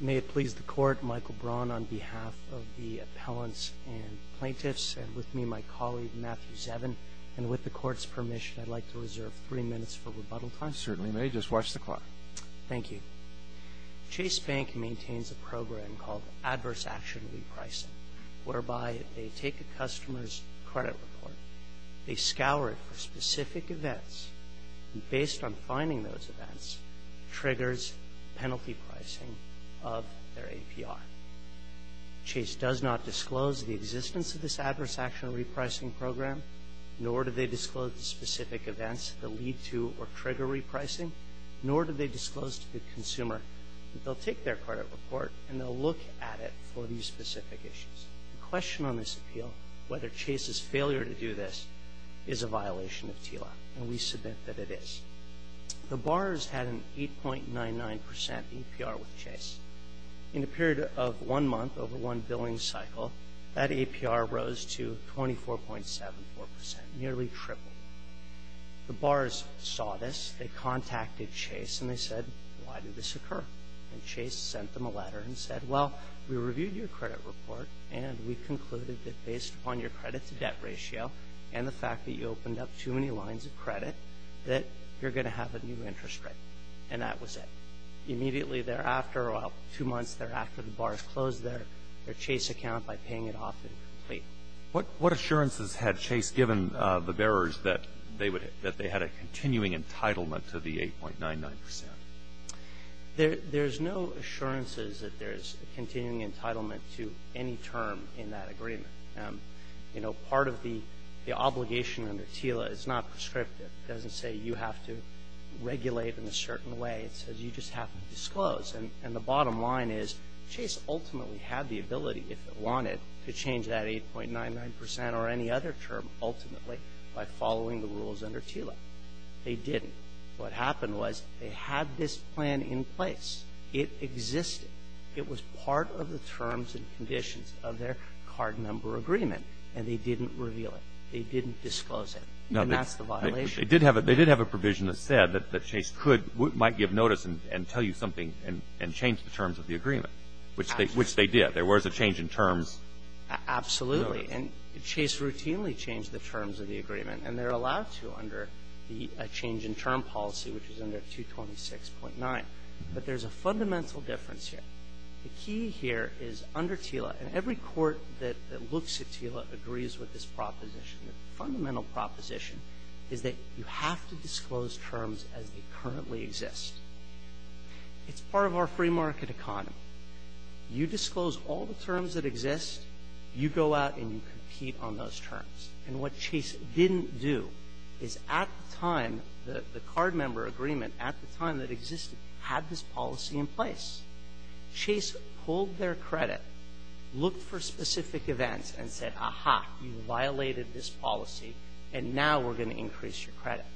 May it please the Court, Michael Braun on behalf of the appellants and plaintiffs, and with me my colleague Matthew Zevin. And with the Court's permission, I'd like to reserve three minutes for rebuttal time. You certainly may. Just watch the clock. Thank you. Chase Bank maintains a program called Adverse Action Repricing, whereby they take a customer's credit report, they scour it for specific events, and based on finding those events, triggers penalty pricing of their APR. Chase does not disclose the existence of this Adverse Action Repricing program, nor do they disclose the specific events that lead to or trigger repricing, nor do they disclose to the consumer that they'll take their credit report and they'll look at it for these specific issues. The question on this appeal, whether Chase's failure to do this, is a violation of TILA, and we submit that it is. The Bars had an 8.99% APR with Chase. In a period of one month over one billing cycle, that APR rose to 24.74%, nearly triple. The Bars saw this, they contacted Chase, and they said, why did this occur? And Chase sent them a letter and said, well, we reviewed your credit report, and we concluded that based upon your credit-to-debt ratio and the fact that you opened up too many lines of credit that you're going to have a new interest rate. And that was it. Immediately thereafter, well, two months thereafter, the Bars closed their Chase account by paying it off incomplete. What assurances had Chase given the bearers that they had a continuing entitlement to the 8.99%? There's no assurances that there's a continuing entitlement to any term in that agreement. You know, part of the obligation under TILA is not prescriptive. It doesn't say you have to regulate in a certain way. It says you just have to disclose. And the bottom line is Chase ultimately had the ability, if it wanted, to change that 8.99% or any other term ultimately by following the rules under TILA. They didn't. What happened was they had this plan in place. It existed. It was part of the terms and conditions of their card number agreement, and they didn't reveal it. They didn't disclose it. And that's the violation. They did have a provision that said that Chase could or might give notice and tell you something and change the terms of the agreement, which they did. There was a change in terms. Absolutely. And Chase routinely changed the terms of the agreement, and they're allowed to under a change in term policy, which is under 226.9. But there's a fundamental difference here. The key here is under TILA, and every court that looks at TILA agrees with this proposition, the fundamental proposition is that you have to disclose terms as they currently exist. It's part of our free market economy. You disclose all the terms that exist, you go out and you compete on those terms. And what Chase didn't do is at the time, the card member agreement at the time that existed, had this policy in place. Chase pulled their credit, looked for specific events, and said, aha, you violated this policy and now we're going to increase your credit.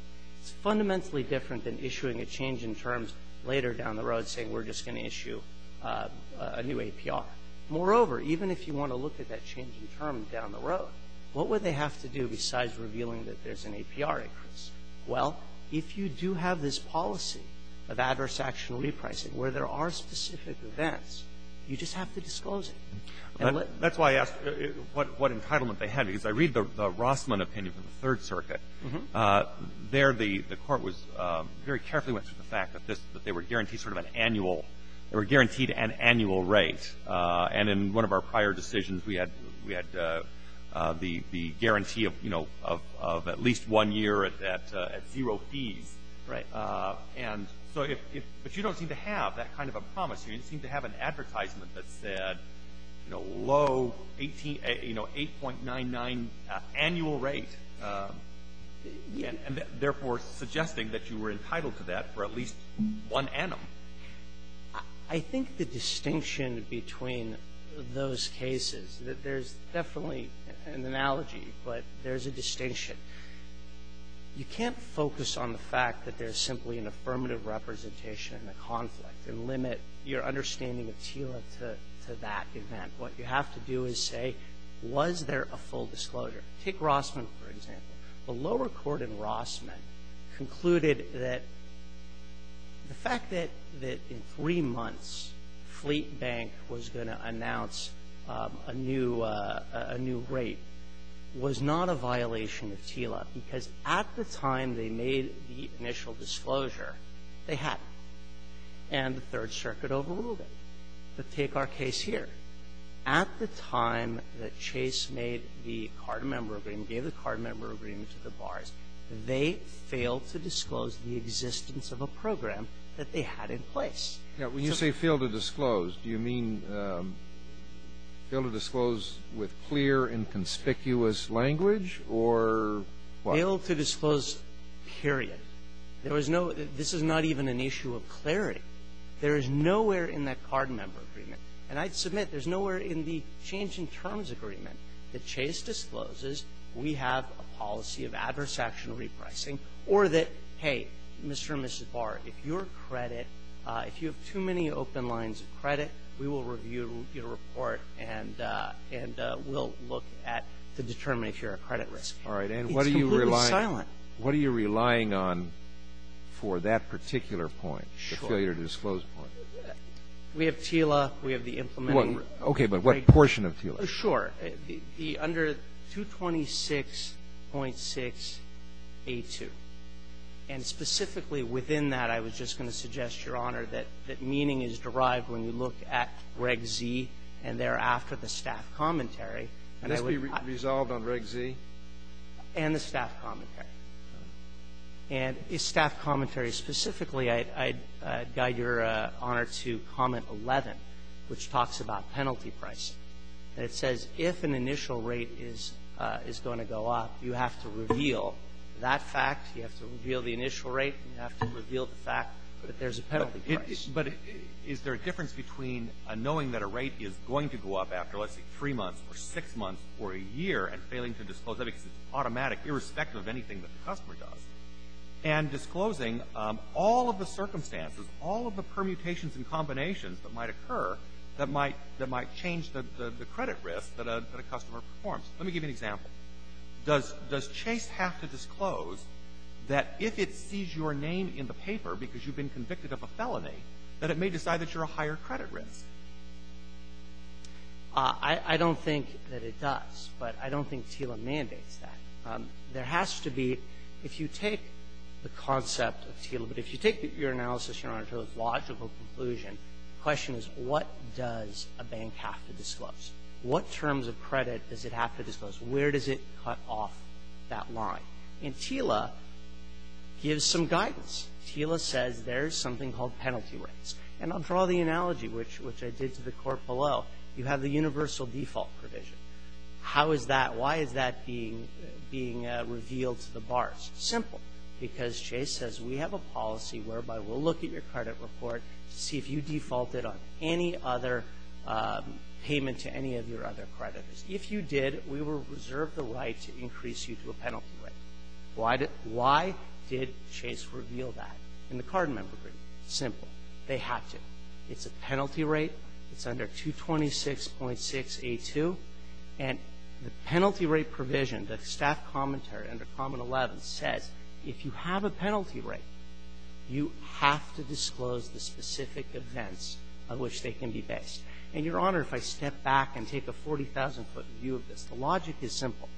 It's fundamentally different than issuing a change in terms later down the road, saying we're just going to issue a new APR. Moreover, even if you want to look at that change in terms down the road, what would they have to do besides revealing that there's an APR increase? Well, if you do have this policy of adverse action repricing where there are specific events, you just have to disclose it. And let's – That's why I asked what entitlement they had. Because I read the Rossman opinion from the Third Circuit. There the court was – very carefully went to the fact that this – that they were guaranteed sort of an annual – they were guaranteed an annual rate. And in one of our prior decisions, we had – we had the guarantee of, you know, of at least one year at zero fees. Right. And so if – but you don't seem to have that kind of a promise. You don't seem to have an advertisement that said, you know, low, 18 – you know, 8.99 annual rate, and therefore suggesting that you were entitled to that for at least one annum. I think the distinction between those cases – there's definitely an analogy, but there's a distinction. You can't focus on the fact that there's simply an affirmative representation in the conflict and limit your understanding of TILA to that event. What you have to do is say, was there a full disclosure? Take Rossman, for example. The lower court in Rossman concluded that the fact that – that in three months Fleet Bank was going to announce a new – a new rate was not a violation of TILA because at the time they made the initial disclosure, they had. And the Third Circuit overruled it. But take our case here. At the time that Chase made the card member agreement, gave the card member agreement to the bars, they failed to disclose the existence of a program that they had in place. Now, when you say failed to disclose, do you mean failed to disclose with clear and conspicuous language or what? Failed to disclose, period. There was no – this is not even an issue of clarity. There is nowhere in that card member agreement. And I'd submit there's nowhere in the change in terms agreement that Chase discloses we have a policy of adverse action repricing or that, hey, Mr. and Mrs. Barr, if your credit – if you have too many open lines of credit, we will review your report and we'll look at – to determine if you're at credit risk. It's completely silent. All right. And what are you relying on for that particular point, the failure to disclose point? Sure. We have TILA. We have the implementing reg. Okay. But what portion of TILA? Sure. The under 226.6a2. And specifically within that, I was just going to suggest, Your Honor, that meaning is derived when you look at Reg Z and thereafter the staff commentary. And I would – It must be resolved on Reg Z? And the staff commentary. And the staff commentary specifically, I'd guide Your Honor to Comment 11, which talks about penalty pricing. And it says if an initial rate is going to go up, you have to reveal that fact. You have to reveal the initial rate. You have to reveal the fact that there's a penalty price. But is there a difference between knowing that a rate is going to go up after, let's say, three months or six months or a year and failing to disclose that it's automatic, irrespective of anything that the customer does, and disclosing all of the circumstances, all of the permutations and combinations that might occur that might change the credit risk that a customer performs? Let me give you an example. Does Chase have to disclose that if it sees your name in the paper because you've been convicted of a felony, that it may decide that you're a higher credit risk? I don't think that it does, but I don't think TILA mandates that. There has to be, if you take the concept of TILA, but if you take your analysis, Your Honor, to its logical conclusion, the question is, what does a bank have to disclose? What terms of credit does it have to disclose? Where does it cut off that line? And TILA gives some guidance. TILA says there's something called penalty rates. And I'll draw the analogy, which I did to the court below. You have the universal default provision. How is that? Why is that being revealed to the bars? Simple. Because Chase says we have a policy whereby we'll look at your credit report to see if you defaulted on any other payment to any of your other creditors. If you did, we will reserve the right to increase you to a penalty rate. Why did Chase reveal that? And the card member agreed. Simple. They have to. It's a penalty rate. It's under 226.6a2. And the penalty rate provision, the staff commentary under Common 11 says if you have a penalty rate, you have to disclose the specific events on which they can be based. And, Your Honor, if I step back and take a 40,000-foot view of this, the logic is simple.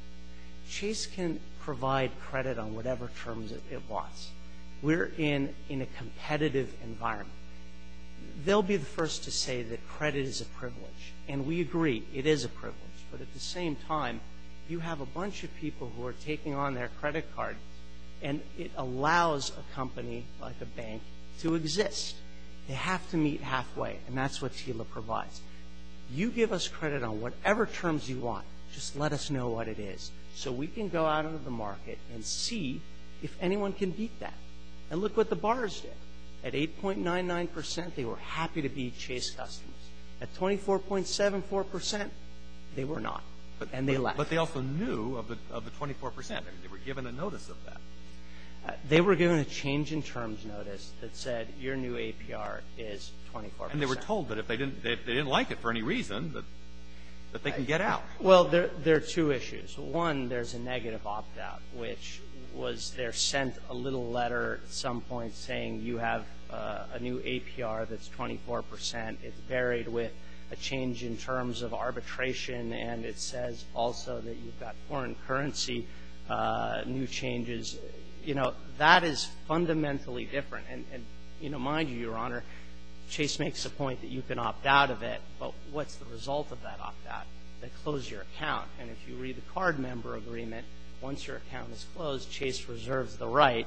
Chase can provide credit on whatever terms it wants. We're in a competitive environment. They'll be the first to say that credit is a privilege. And we agree. It is a privilege. But at the same time, you have a bunch of people who are taking on their credit card, and it allows a company like a bank to exist. They have to meet halfway, and that's what TILA provides. You give us credit on whatever terms you want. Just let us know what it is so we can go out into the market and see if anyone can beat that. And look what the bars did. At 8.99 percent, they were happy to beat Chase Customs. At 24.74 percent, they were not, and they left. But they also knew of the 24 percent. They were given a notice of that. They were given a change-in-terms notice that said your new APR is 24 percent. And they were told that if they didn't like it for any reason, that they can get out. Well, there are two issues. One, there's a negative opt-out, which was they're sent a little letter at some point saying you have a new APR that's 24 percent. It's buried with a change-in-terms of arbitration, and it says also that you've got foreign currency, new changes. You know, that is fundamentally different. And, you know, mind you, Your Honor, Chase makes the point that you can opt out of it, but what's the result of that opt-out? They close your account. And if you read the card member agreement, once your account is closed, Chase reserves the right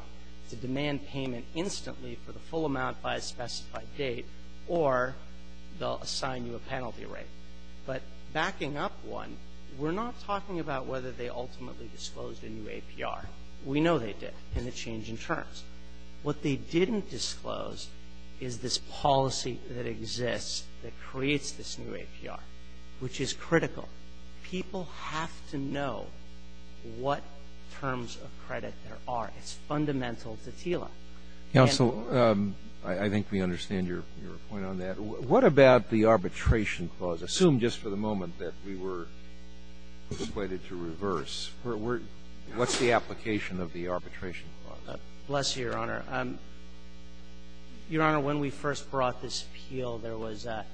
to demand payment instantly for the full amount by a specified date, or they'll assign you a penalty rate. But backing up one, we're not talking about whether they ultimately disclosed a new APR. We know they did in the change-in-terms. What they didn't disclose is this policy that exists that creates this new APR, which is critical. People have to know what terms of credit there are. It's fundamental to TILA. And so I think we understand your point on that. What about the arbitration clause? Assume just for the moment that we were persuaded to reverse. What's the application of the arbitration clause? Bless you, Your Honor. Your Honor, when we first brought this appeal, there was a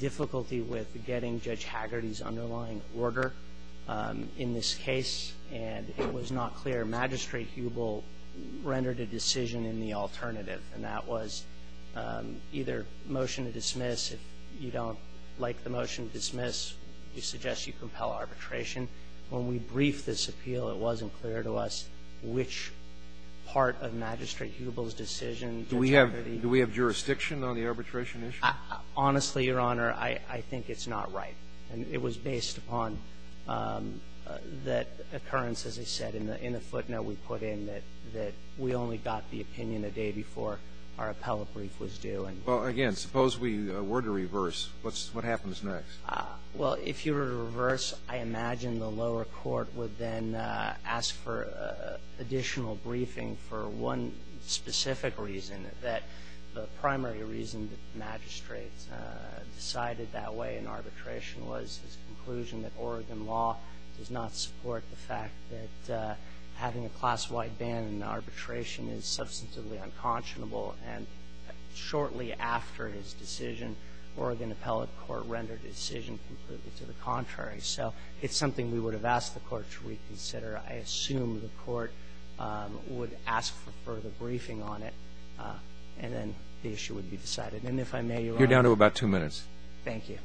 difficulty with getting to Judge Hagerty's underlying order in this case. And it was not clear. Magistrate Hubel rendered a decision in the alternative, and that was either motion to dismiss. If you don't like the motion to dismiss, we suggest you compel arbitration. When we briefed this appeal, it wasn't clear to us which part of Magistrate Hubel's decision Judge Hagerty. Do we have jurisdiction on the arbitration issue? Honestly, Your Honor, I think it's not right. And it was based upon that occurrence, as I said, in the footnote we put in that we only got the opinion a day before our appellate brief was due. Well, again, suppose we were to reverse. What happens next? Well, if you were to reverse, I imagine the lower court would then ask for additional further briefing on it, and then the issue would be decided. And if I may, Your Honor. You're down to about two minutes. Thank you.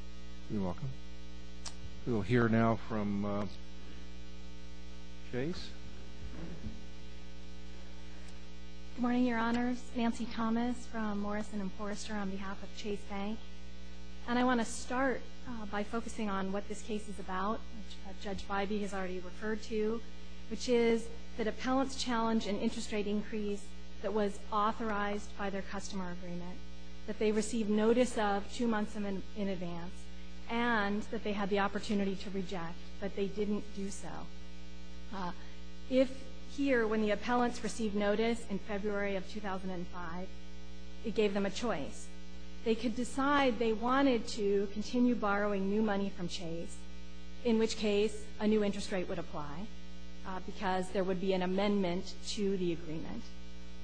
You're welcome. We will hear now from Chase. Good morning, Your Honors. Nancy Thomas from Morrison & Forrester on behalf of Chase Bank. And I want to start by focusing on what this case is about, which Judge Bybee has already referred to, which is the dependence challenge and interest rate increase that was authorized by their customer agreement, that they received notice of two months in advance, and that they had the opportunity to reject, but they didn't do so. If here, when the appellants received notice in February of 2005, it gave them a choice, they could decide they wanted to continue borrowing new money from Chase, in which case a new interest rate would apply because there would be an amendment to the agreement,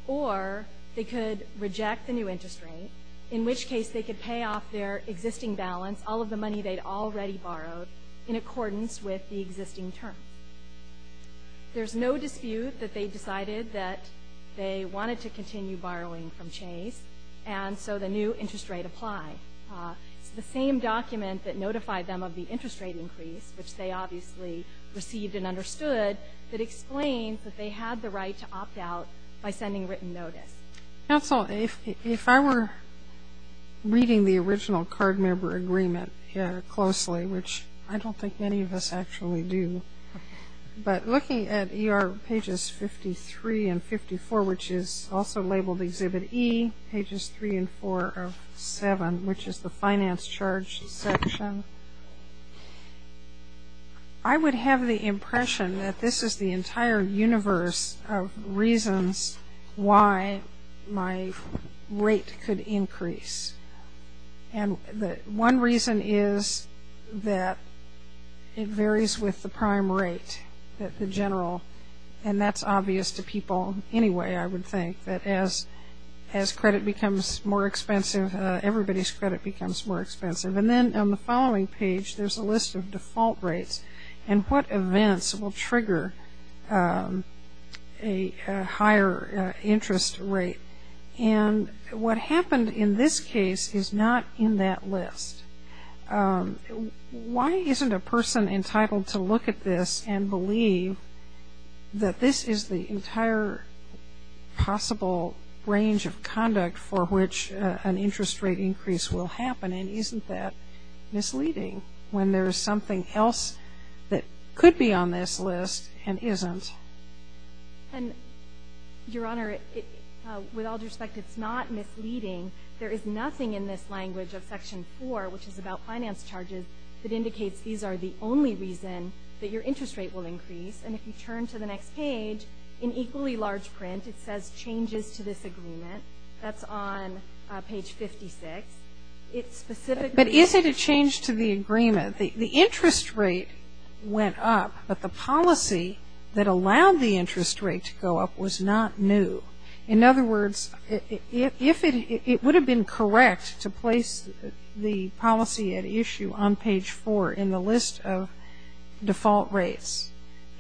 or they could reject the new interest rate, in which case they could pay off their existing balance, all of the money they'd already borrowed, in accordance with the existing term. There's no dispute that they decided that they wanted to continue borrowing from Chase, and so the new interest rate applied. The same document that notified them of the interest rate increase, which they obviously received and understood, that explains that they had the right to opt out by sending written notice. Counsel, if I were reading the original card member agreement here closely, which I don't think many of us actually do, but looking at ER pages 53 and 54, which is also labeled Exhibit E, pages 3 and 4 of 7, which is the finance charge section, I would have the impression that this is the entire universe of reasons why my rate could increase. And one reason is that it varies with the prime rate that the general, and that's obvious to people anyway, I would think, that as credit becomes more expensive, everybody's credit becomes more expensive. And then on the following page, there's a list of default rates and what events will trigger a higher interest rate. And what happened in this case is not in that list. Why isn't a person entitled to look at this and believe that this is the entire possible range of conduct for which an interest rate increase will happen? And isn't that misleading when there is something else that could be on this list and isn't? And, Your Honor, with all due respect, it's not misleading. There is nothing in this language of Section 4, which is about finance charges, that indicates these are the only reason that your interest rate will increase. And if you turn to the next page, in equally large print, it says, Changes to this agreement. That's on page 56. It specifically says- But is it a change to the agreement? The interest rate went up, but the policy that allowed the interest rate to go up was not new. In other words, if it would have been correct to place the policy at issue on page 4 in the list of default rates,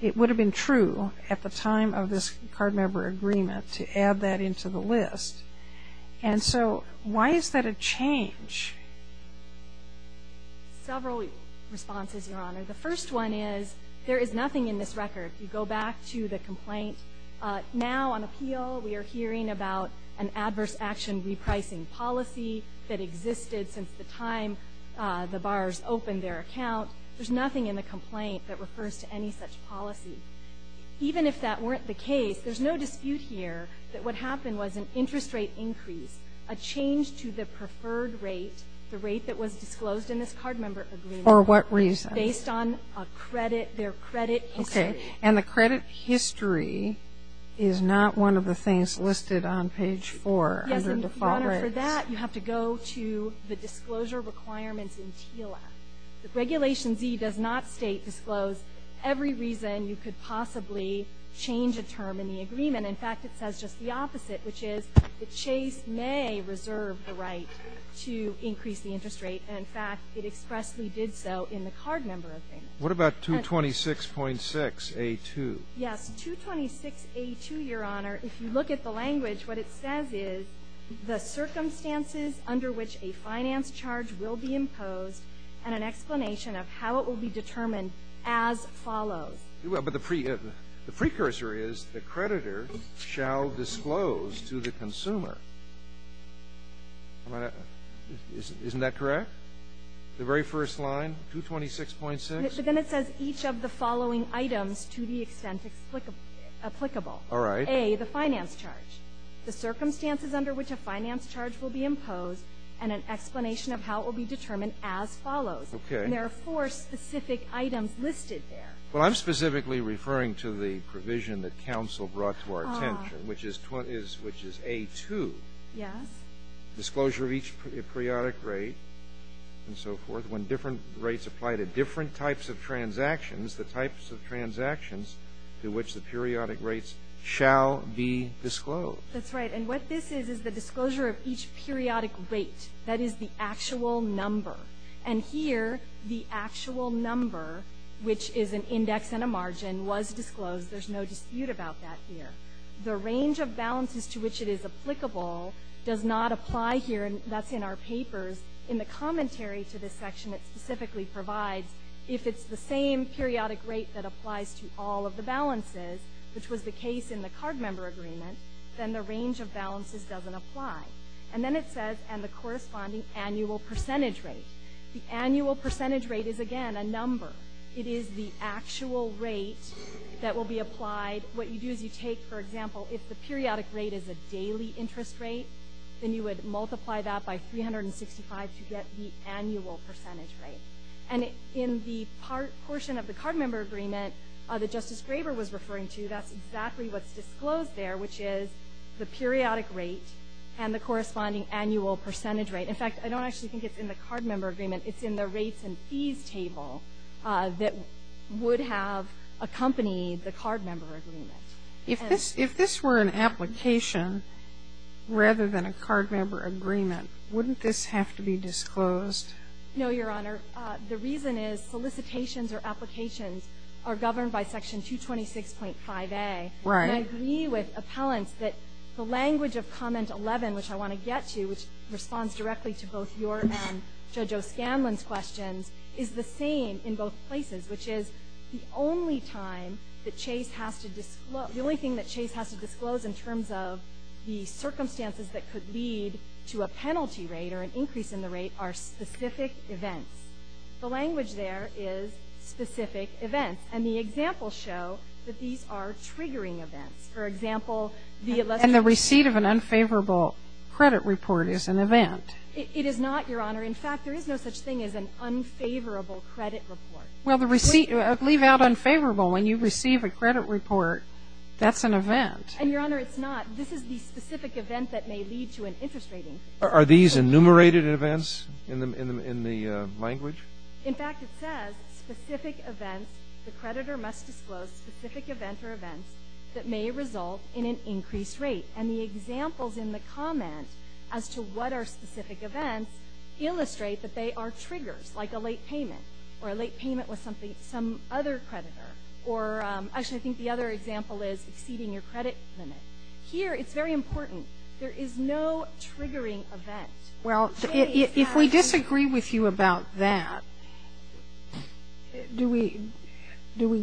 it would have been true at the time of this card member agreement to add that into the list. And so why is that a change? Several responses, Your Honor. The first one is there is nothing in this record. You go back to the complaint. Now, on appeal, we are hearing about an adverse action repricing policy that existed since the time the bars opened their account. There's nothing in the complaint that refers to any such policy. Even if that weren't the case, there's no dispute here that what happened was an interest rate increase, a change to the preferred rate, the rate that was disclosed in this card member agreement- For what reason? Based on their credit history. Okay. And the credit history is not one of the things listed on page 4 under default rates. Yes, and, Your Honor, for that, you have to go to the disclosure requirements in TLF. Regulation Z does not state disclosed every reason you could possibly change a term in the agreement. In fact, it says just the opposite, which is that Chase may reserve the right to increase the interest rate. And, in fact, it expressly did so in the card member agreement. What about 226.6A2? Yes, 226A2, Your Honor, if you look at the language, what it says is, the circumstances under which a finance charge will be imposed and an explanation of how it will be determined as follows. Well, but the precursor is the creditor shall disclose to the consumer. Isn't that correct? The very first line, 226.6? But then it says each of the following items to the extent applicable. All right. A, the finance charge, the circumstances under which a finance charge will be imposed and an explanation of how it will be determined as follows. Okay. And there are four specific items listed there. Well, I'm specifically referring to the provision that counsel brought to our attention, which is A2. Yes. Disclosure of each periodic rate and so forth. When different rates apply to different types of transactions, the types of transactions to which the periodic rates shall be disclosed. That's right. And what this is is the disclosure of each periodic rate. That is the actual number. And here the actual number, which is an index and a margin, was disclosed. There's no dispute about that here. The range of balances to which it is applicable does not apply here, and that's in our papers. In the commentary to this section it specifically provides if it's the same periodic rate that applies to all of the balances, which was the case in the card member agreement, then the range of balances doesn't apply. And then it says, and the corresponding annual percentage rate. The annual percentage rate is, again, a number. It is the actual rate that will be applied. What you do is you take, for example, if the periodic rate is a daily interest rate, then you would multiply that by 365 to get the annual percentage rate. And in the portion of the card member agreement that Justice Graber was referring to, that's exactly what's disclosed there, which is the periodic rate and the corresponding annual percentage rate. In fact, I don't actually think it's in the card member agreement. It's in the rates and fees table that would have accompanied the card member agreement. Sotomayor, if this were an application rather than a card member agreement, wouldn't this have to be disclosed? No, Your Honor. The reason is solicitations or applications are governed by Section 226.5a. Right. And I agree with appellants that the language of Comment 11, which I want to get to, which responds directly to both your and Judge O'Scanlon's questions, is the same in both places, which is the only thing that Chase has to disclose in terms of the circumstances that could lead to a penalty rate or an increase in the rate are specific events. The language there is specific events. And the examples show that these are triggering events. And the receipt of an unfavorable credit report is an event. It is not, Your Honor. In fact, there is no such thing as an unfavorable credit report. Well, the receipt, leave out unfavorable. When you receive a credit report, that's an event. And, Your Honor, it's not. This is the specific event that may lead to an interest rating. In fact, it says, the creditor must disclose specific event or events that may result in an increased rate. And the examples in the comment as to what are specific events illustrate that they are triggers, like a late payment or a late payment with some other creditor. Or actually, I think the other example is exceeding your credit limit. Here, it's very important. There is no triggering event. Well, if we disagree with you about that, do we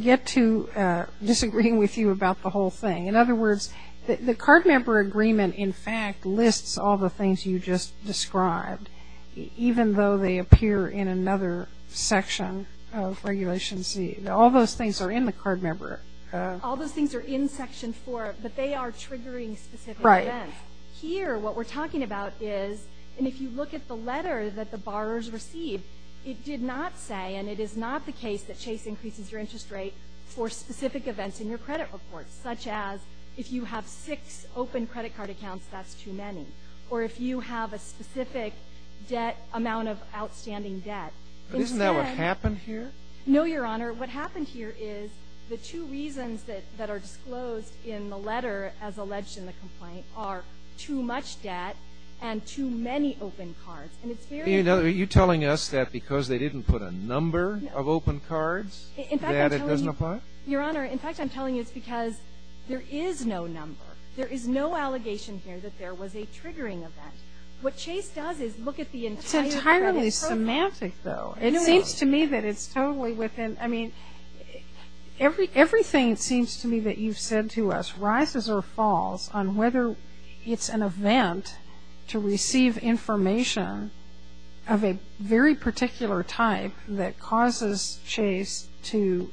get to disagreeing with you about the whole thing? In other words, the card member agreement, in fact, lists all the things you just described, even though they appear in another section of Regulation C. All those things are in the card member. All those things are in Section 4, but they are triggering specific events. Right. Here, what we're talking about is, and if you look at the letter that the borrowers received, it did not say, and it is not the case that Chase increases your interest rate for specific events in your credit report, such as if you have six open credit card accounts, that's too many, or if you have a specific debt, amount of outstanding debt. Isn't that what happened here? No, Your Honor. What happened here is the two reasons that are disclosed in the letter as alleged in the complaint are too much debt and too many open cards. And it's very important. Are you telling us that because they didn't put a number of open cards that it doesn't apply? Your Honor, in fact, I'm telling you it's because there is no number. There is no allegation here that there was a triggering event. What Chase does is look at the entire credit report. It's entirely semantic, though. It seems to me that it's totally within, I mean, everything, it seems to me, that you've said to us rises or falls on whether it's an event to receive information of a very particular type that causes Chase to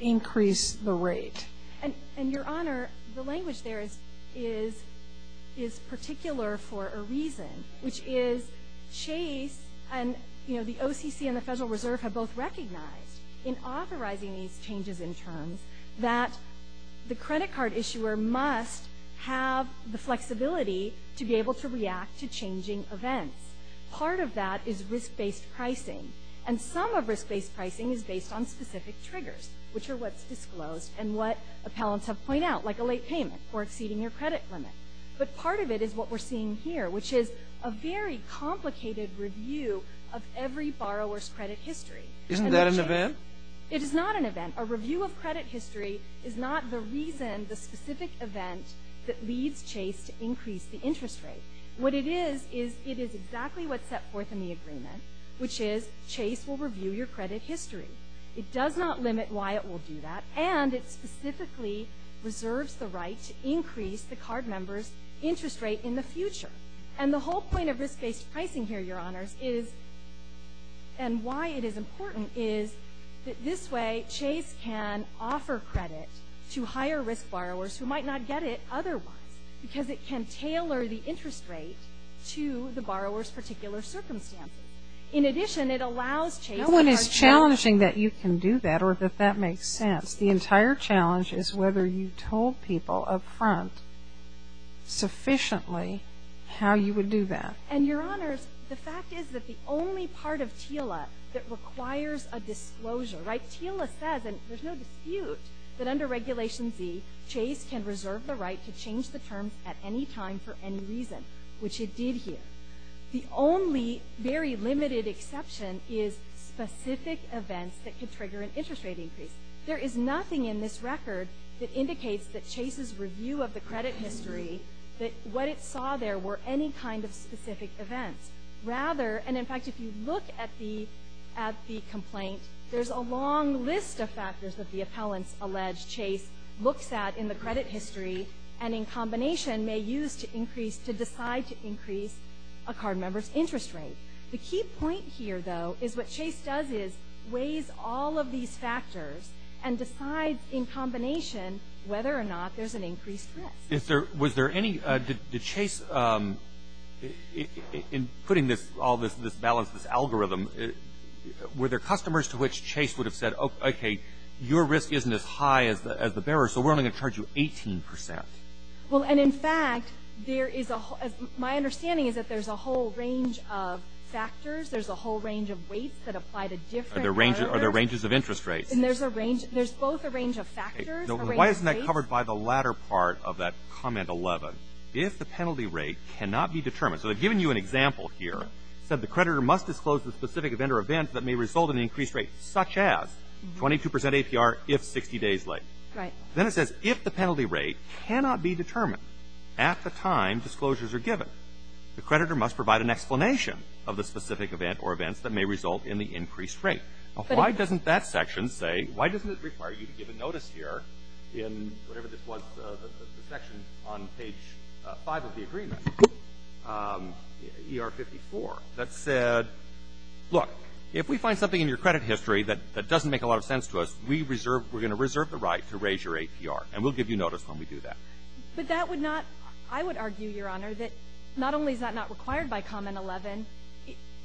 increase the rate. And, Your Honor, the language there is particular for a reason, which is Chase and the OCC and the Federal Reserve have both recognized in authorizing these changes in terms that the credit card issuer must have the flexibility to be able to react to changing events. Part of that is risk-based pricing. And some of risk-based pricing is based on specific triggers, which are what's disclosed and what appellants have pointed out, like a late payment or exceeding your credit limit. But part of it is what we're seeing here, which is a very complicated review of every borrower's credit history. Isn't that an event? It is not an event. A review of credit history is not the reason, the specific event, that leads Chase to increase the interest rate. What it is is it is exactly what's set forth in the agreement, which is Chase will review your credit history. It does not limit why it will do that, and it specifically reserves the right to increase the card member's interest rate in the future. And the whole point of risk-based pricing here, Your Honors, and why it is important is that this way Chase can offer credit to higher-risk borrowers who might not get it otherwise, because it can tailor the interest rate to the borrower's particular circumstance. In addition, it allows Chase... No one is challenging that you can do that or that that makes sense. The entire challenge is whether you told people up front sufficiently how you would do that. And, Your Honors, the fact is that the only part of TILA that requires a disclosure, right? TILA says, and there's no dispute, that under Regulation Z, Chase can reserve the right to change the terms at any time for any reason, which it did here. The only very limited exception is specific events that could trigger an interest rate increase. There is nothing in this record that indicates that Chase's review of the credit history, that what it saw there were any kind of specific events. Rather, and in fact, if you look at the complaint, there's a long list of factors that the appellants allege Chase looks at in the credit history and in combination may use to decide to increase a card member's interest rate. The key point here, though, is what Chase does is weighs all of these factors and decides in combination whether or not there's an increased risk. Was there any... Did Chase... In putting all this balance, this algorithm, were there customers to which Chase would have said, okay, your risk isn't as high as the bearer, so we're only going to charge you 18%? Well, and in fact, there is a whole... My understanding is that there's a whole range of factors, there's a whole range of weights that apply to different... Are there ranges of interest rates? And there's a range... There's both a range of factors, a range of rates... Why isn't that covered by the latter part of that comment 11? If the penalty rate cannot be determined. So they've given you an example here. It said the creditor must disclose the specific event or event that may result in an increased rate, such as 22% APR if 60 days late. Right. Then it says if the penalty rate cannot be determined at the time disclosures are given, the creditor must provide an explanation of the specific event or events that may result in the increased rate. Why doesn't that section say... Why doesn't it require you to give a notice here in whatever this was, the section on page 5 of the agreement, ER 54, that said, look, if we find something in your credit history that doesn't make a lot of sense to us, we're going to reserve the right to raise your APR, and we'll give you notice when we do that. But that would not... I would argue, Your Honor, that not only is that not required by comment 11,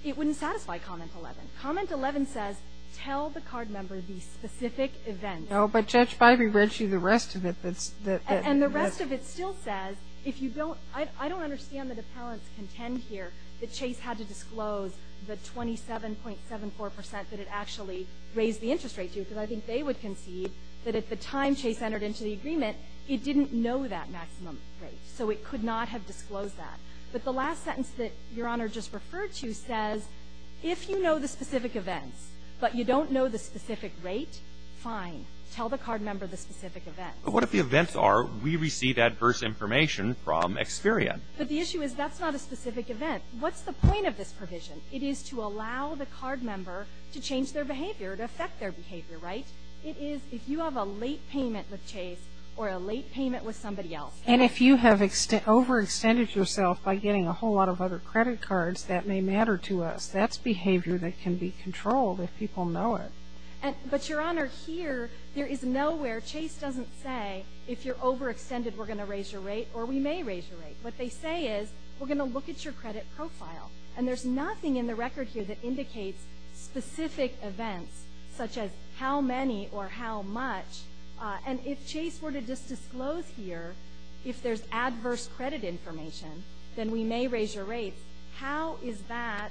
it wouldn't satisfy comment 11. Comment 11 says tell the card member the specific event. No, but Judge, if I read you the rest of it, that's... And the rest of it still says if you don't... I don't understand that appellants contend here that Chase had to disclose the 27.74% that it actually raised the interest rate to, because I think they would concede that at the time Chase entered into the agreement, it didn't know that maximum rate. So it could not have disclosed that. But the last sentence that Your Honor just referred to says, if you know the specific events but you don't know the specific rate, fine. Tell the card member the specific events. But what if the events are we receive adverse information from Experian? But the issue is that's not a specific event. What's the point of this provision? It is to allow the card member to change their behavior, to affect their behavior, right? It is if you have a late payment with Chase or a late payment with somebody else. And if you have overextended yourself by getting a whole lot of other credit cards, that may matter to us. That's behavior that can be controlled if people know it. But, Your Honor, here there is nowhere, Chase doesn't say if you're overextended we're going to raise your rate or we may raise your rate. What they say is we're going to look at your credit profile. And there's nothing in the record here that indicates specific events such as how many or how much. And if Chase were to just disclose here if there's adverse credit information, then we may raise your rate. How is that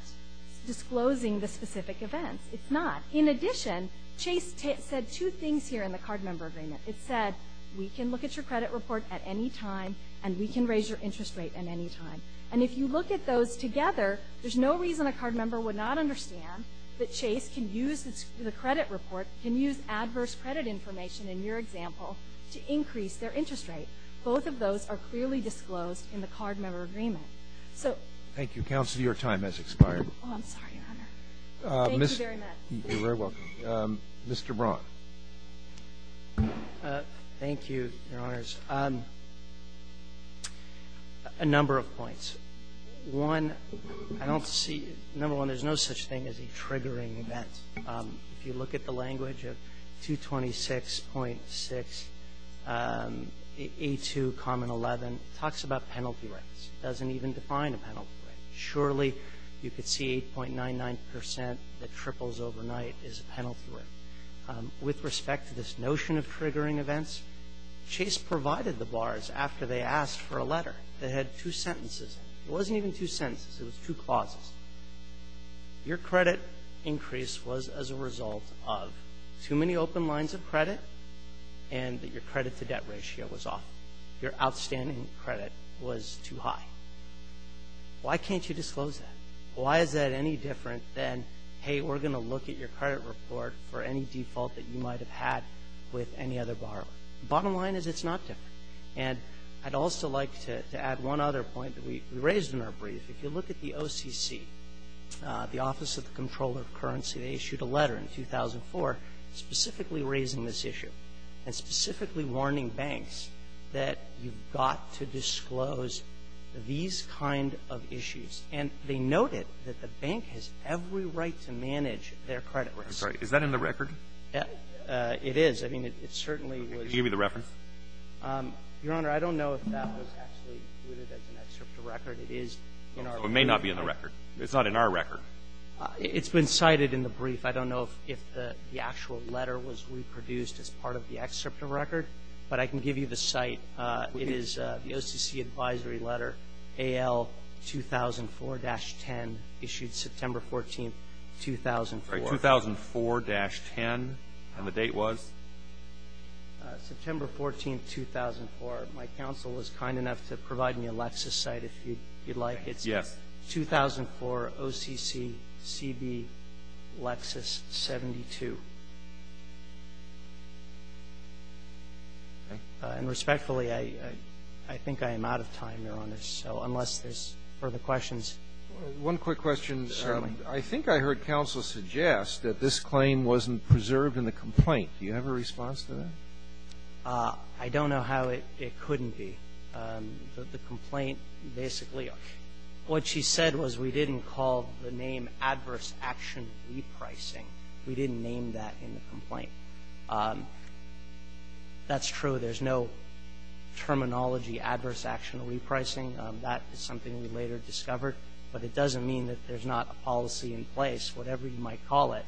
disclosing the specific events? It's not. In addition, Chase said two things here in the card member agreement. It said we can look at your credit report at any time and we can raise your interest rate at any time. And if you look at those together, there's no reason a card member would not understand that Chase can use the credit report, can use adverse credit information in your example to increase their interest rate. Both of those are clearly disclosed in the card member agreement. So. Thank you, Counsel. Your time has expired. Oh, I'm sorry, Your Honor. Thank you very much. You're very welcome. Mr. Braun. Thank you, Your Honors. First, a number of points. One, I don't see, number one, there's no such thing as a triggering event. If you look at the language of 226.6A2, common 11, it talks about penalty rates. It doesn't even define a penalty rate. Surely you could see 8.99% that triples overnight is a penalty rate. With respect to this notion of triggering events, Chase provided the bars after they asked for a letter that had two sentences in it. It wasn't even two sentences. It was two clauses. Your credit increase was as a result of too many open lines of credit and that your credit-to-debt ratio was off. Your outstanding credit was too high. Why can't you disclose that? Why is that any different than, hey, we're going to look at your credit report for any default that you might have had with any other borrower? The bottom line is it's not different. And I'd also like to add one other point that we raised in our brief. If you look at the OCC, the Office of the Comptroller of Currency, they issued a letter in 2004 specifically raising this issue and specifically warning banks that you've got to disclose these kind of issues. And they noted that the bank has every right to manage their credit risk. I'm sorry. Is that in the record? It is. I mean, it certainly was. Can you give me the reference? Your Honor, I don't know if that was actually included as an excerpt of record. It is in our brief. It may not be in the record. It's not in our record. It's been cited in the brief. I don't know if the actual letter was reproduced as part of the excerpt of record, but I can give you the site. It is the OCC Advisory Letter, AL 2004-10, issued September 14, 2004. 2004-10. And the date was? September 14, 2004. My counsel was kind enough to provide me a Lexus site if you'd like. It's 2004 OCC CB Lexus 72. And respectfully, I think I am out of time, Your Honor. So unless there's further questions. One quick question. Certainly. I think I heard counsel suggest that this claim wasn't preserved in the complaint. Do you have a response to that? I don't know how it couldn't be. The complaint basically, what she said was we didn't call the name adverse action repricing. We didn't name that in the complaint. That's true. There's no terminology adverse action repricing. That is something we later discovered. But it doesn't mean that there's not a policy in place, whatever you might call it,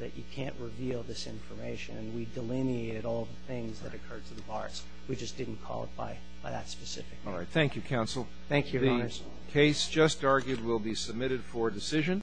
that you can't reveal this information. And we delineated all the things that occurred to the bars. We just didn't call it by that specific. All right. Thank you, counsel. Thank you, Your Honor. The case just argued will be submitted for decision.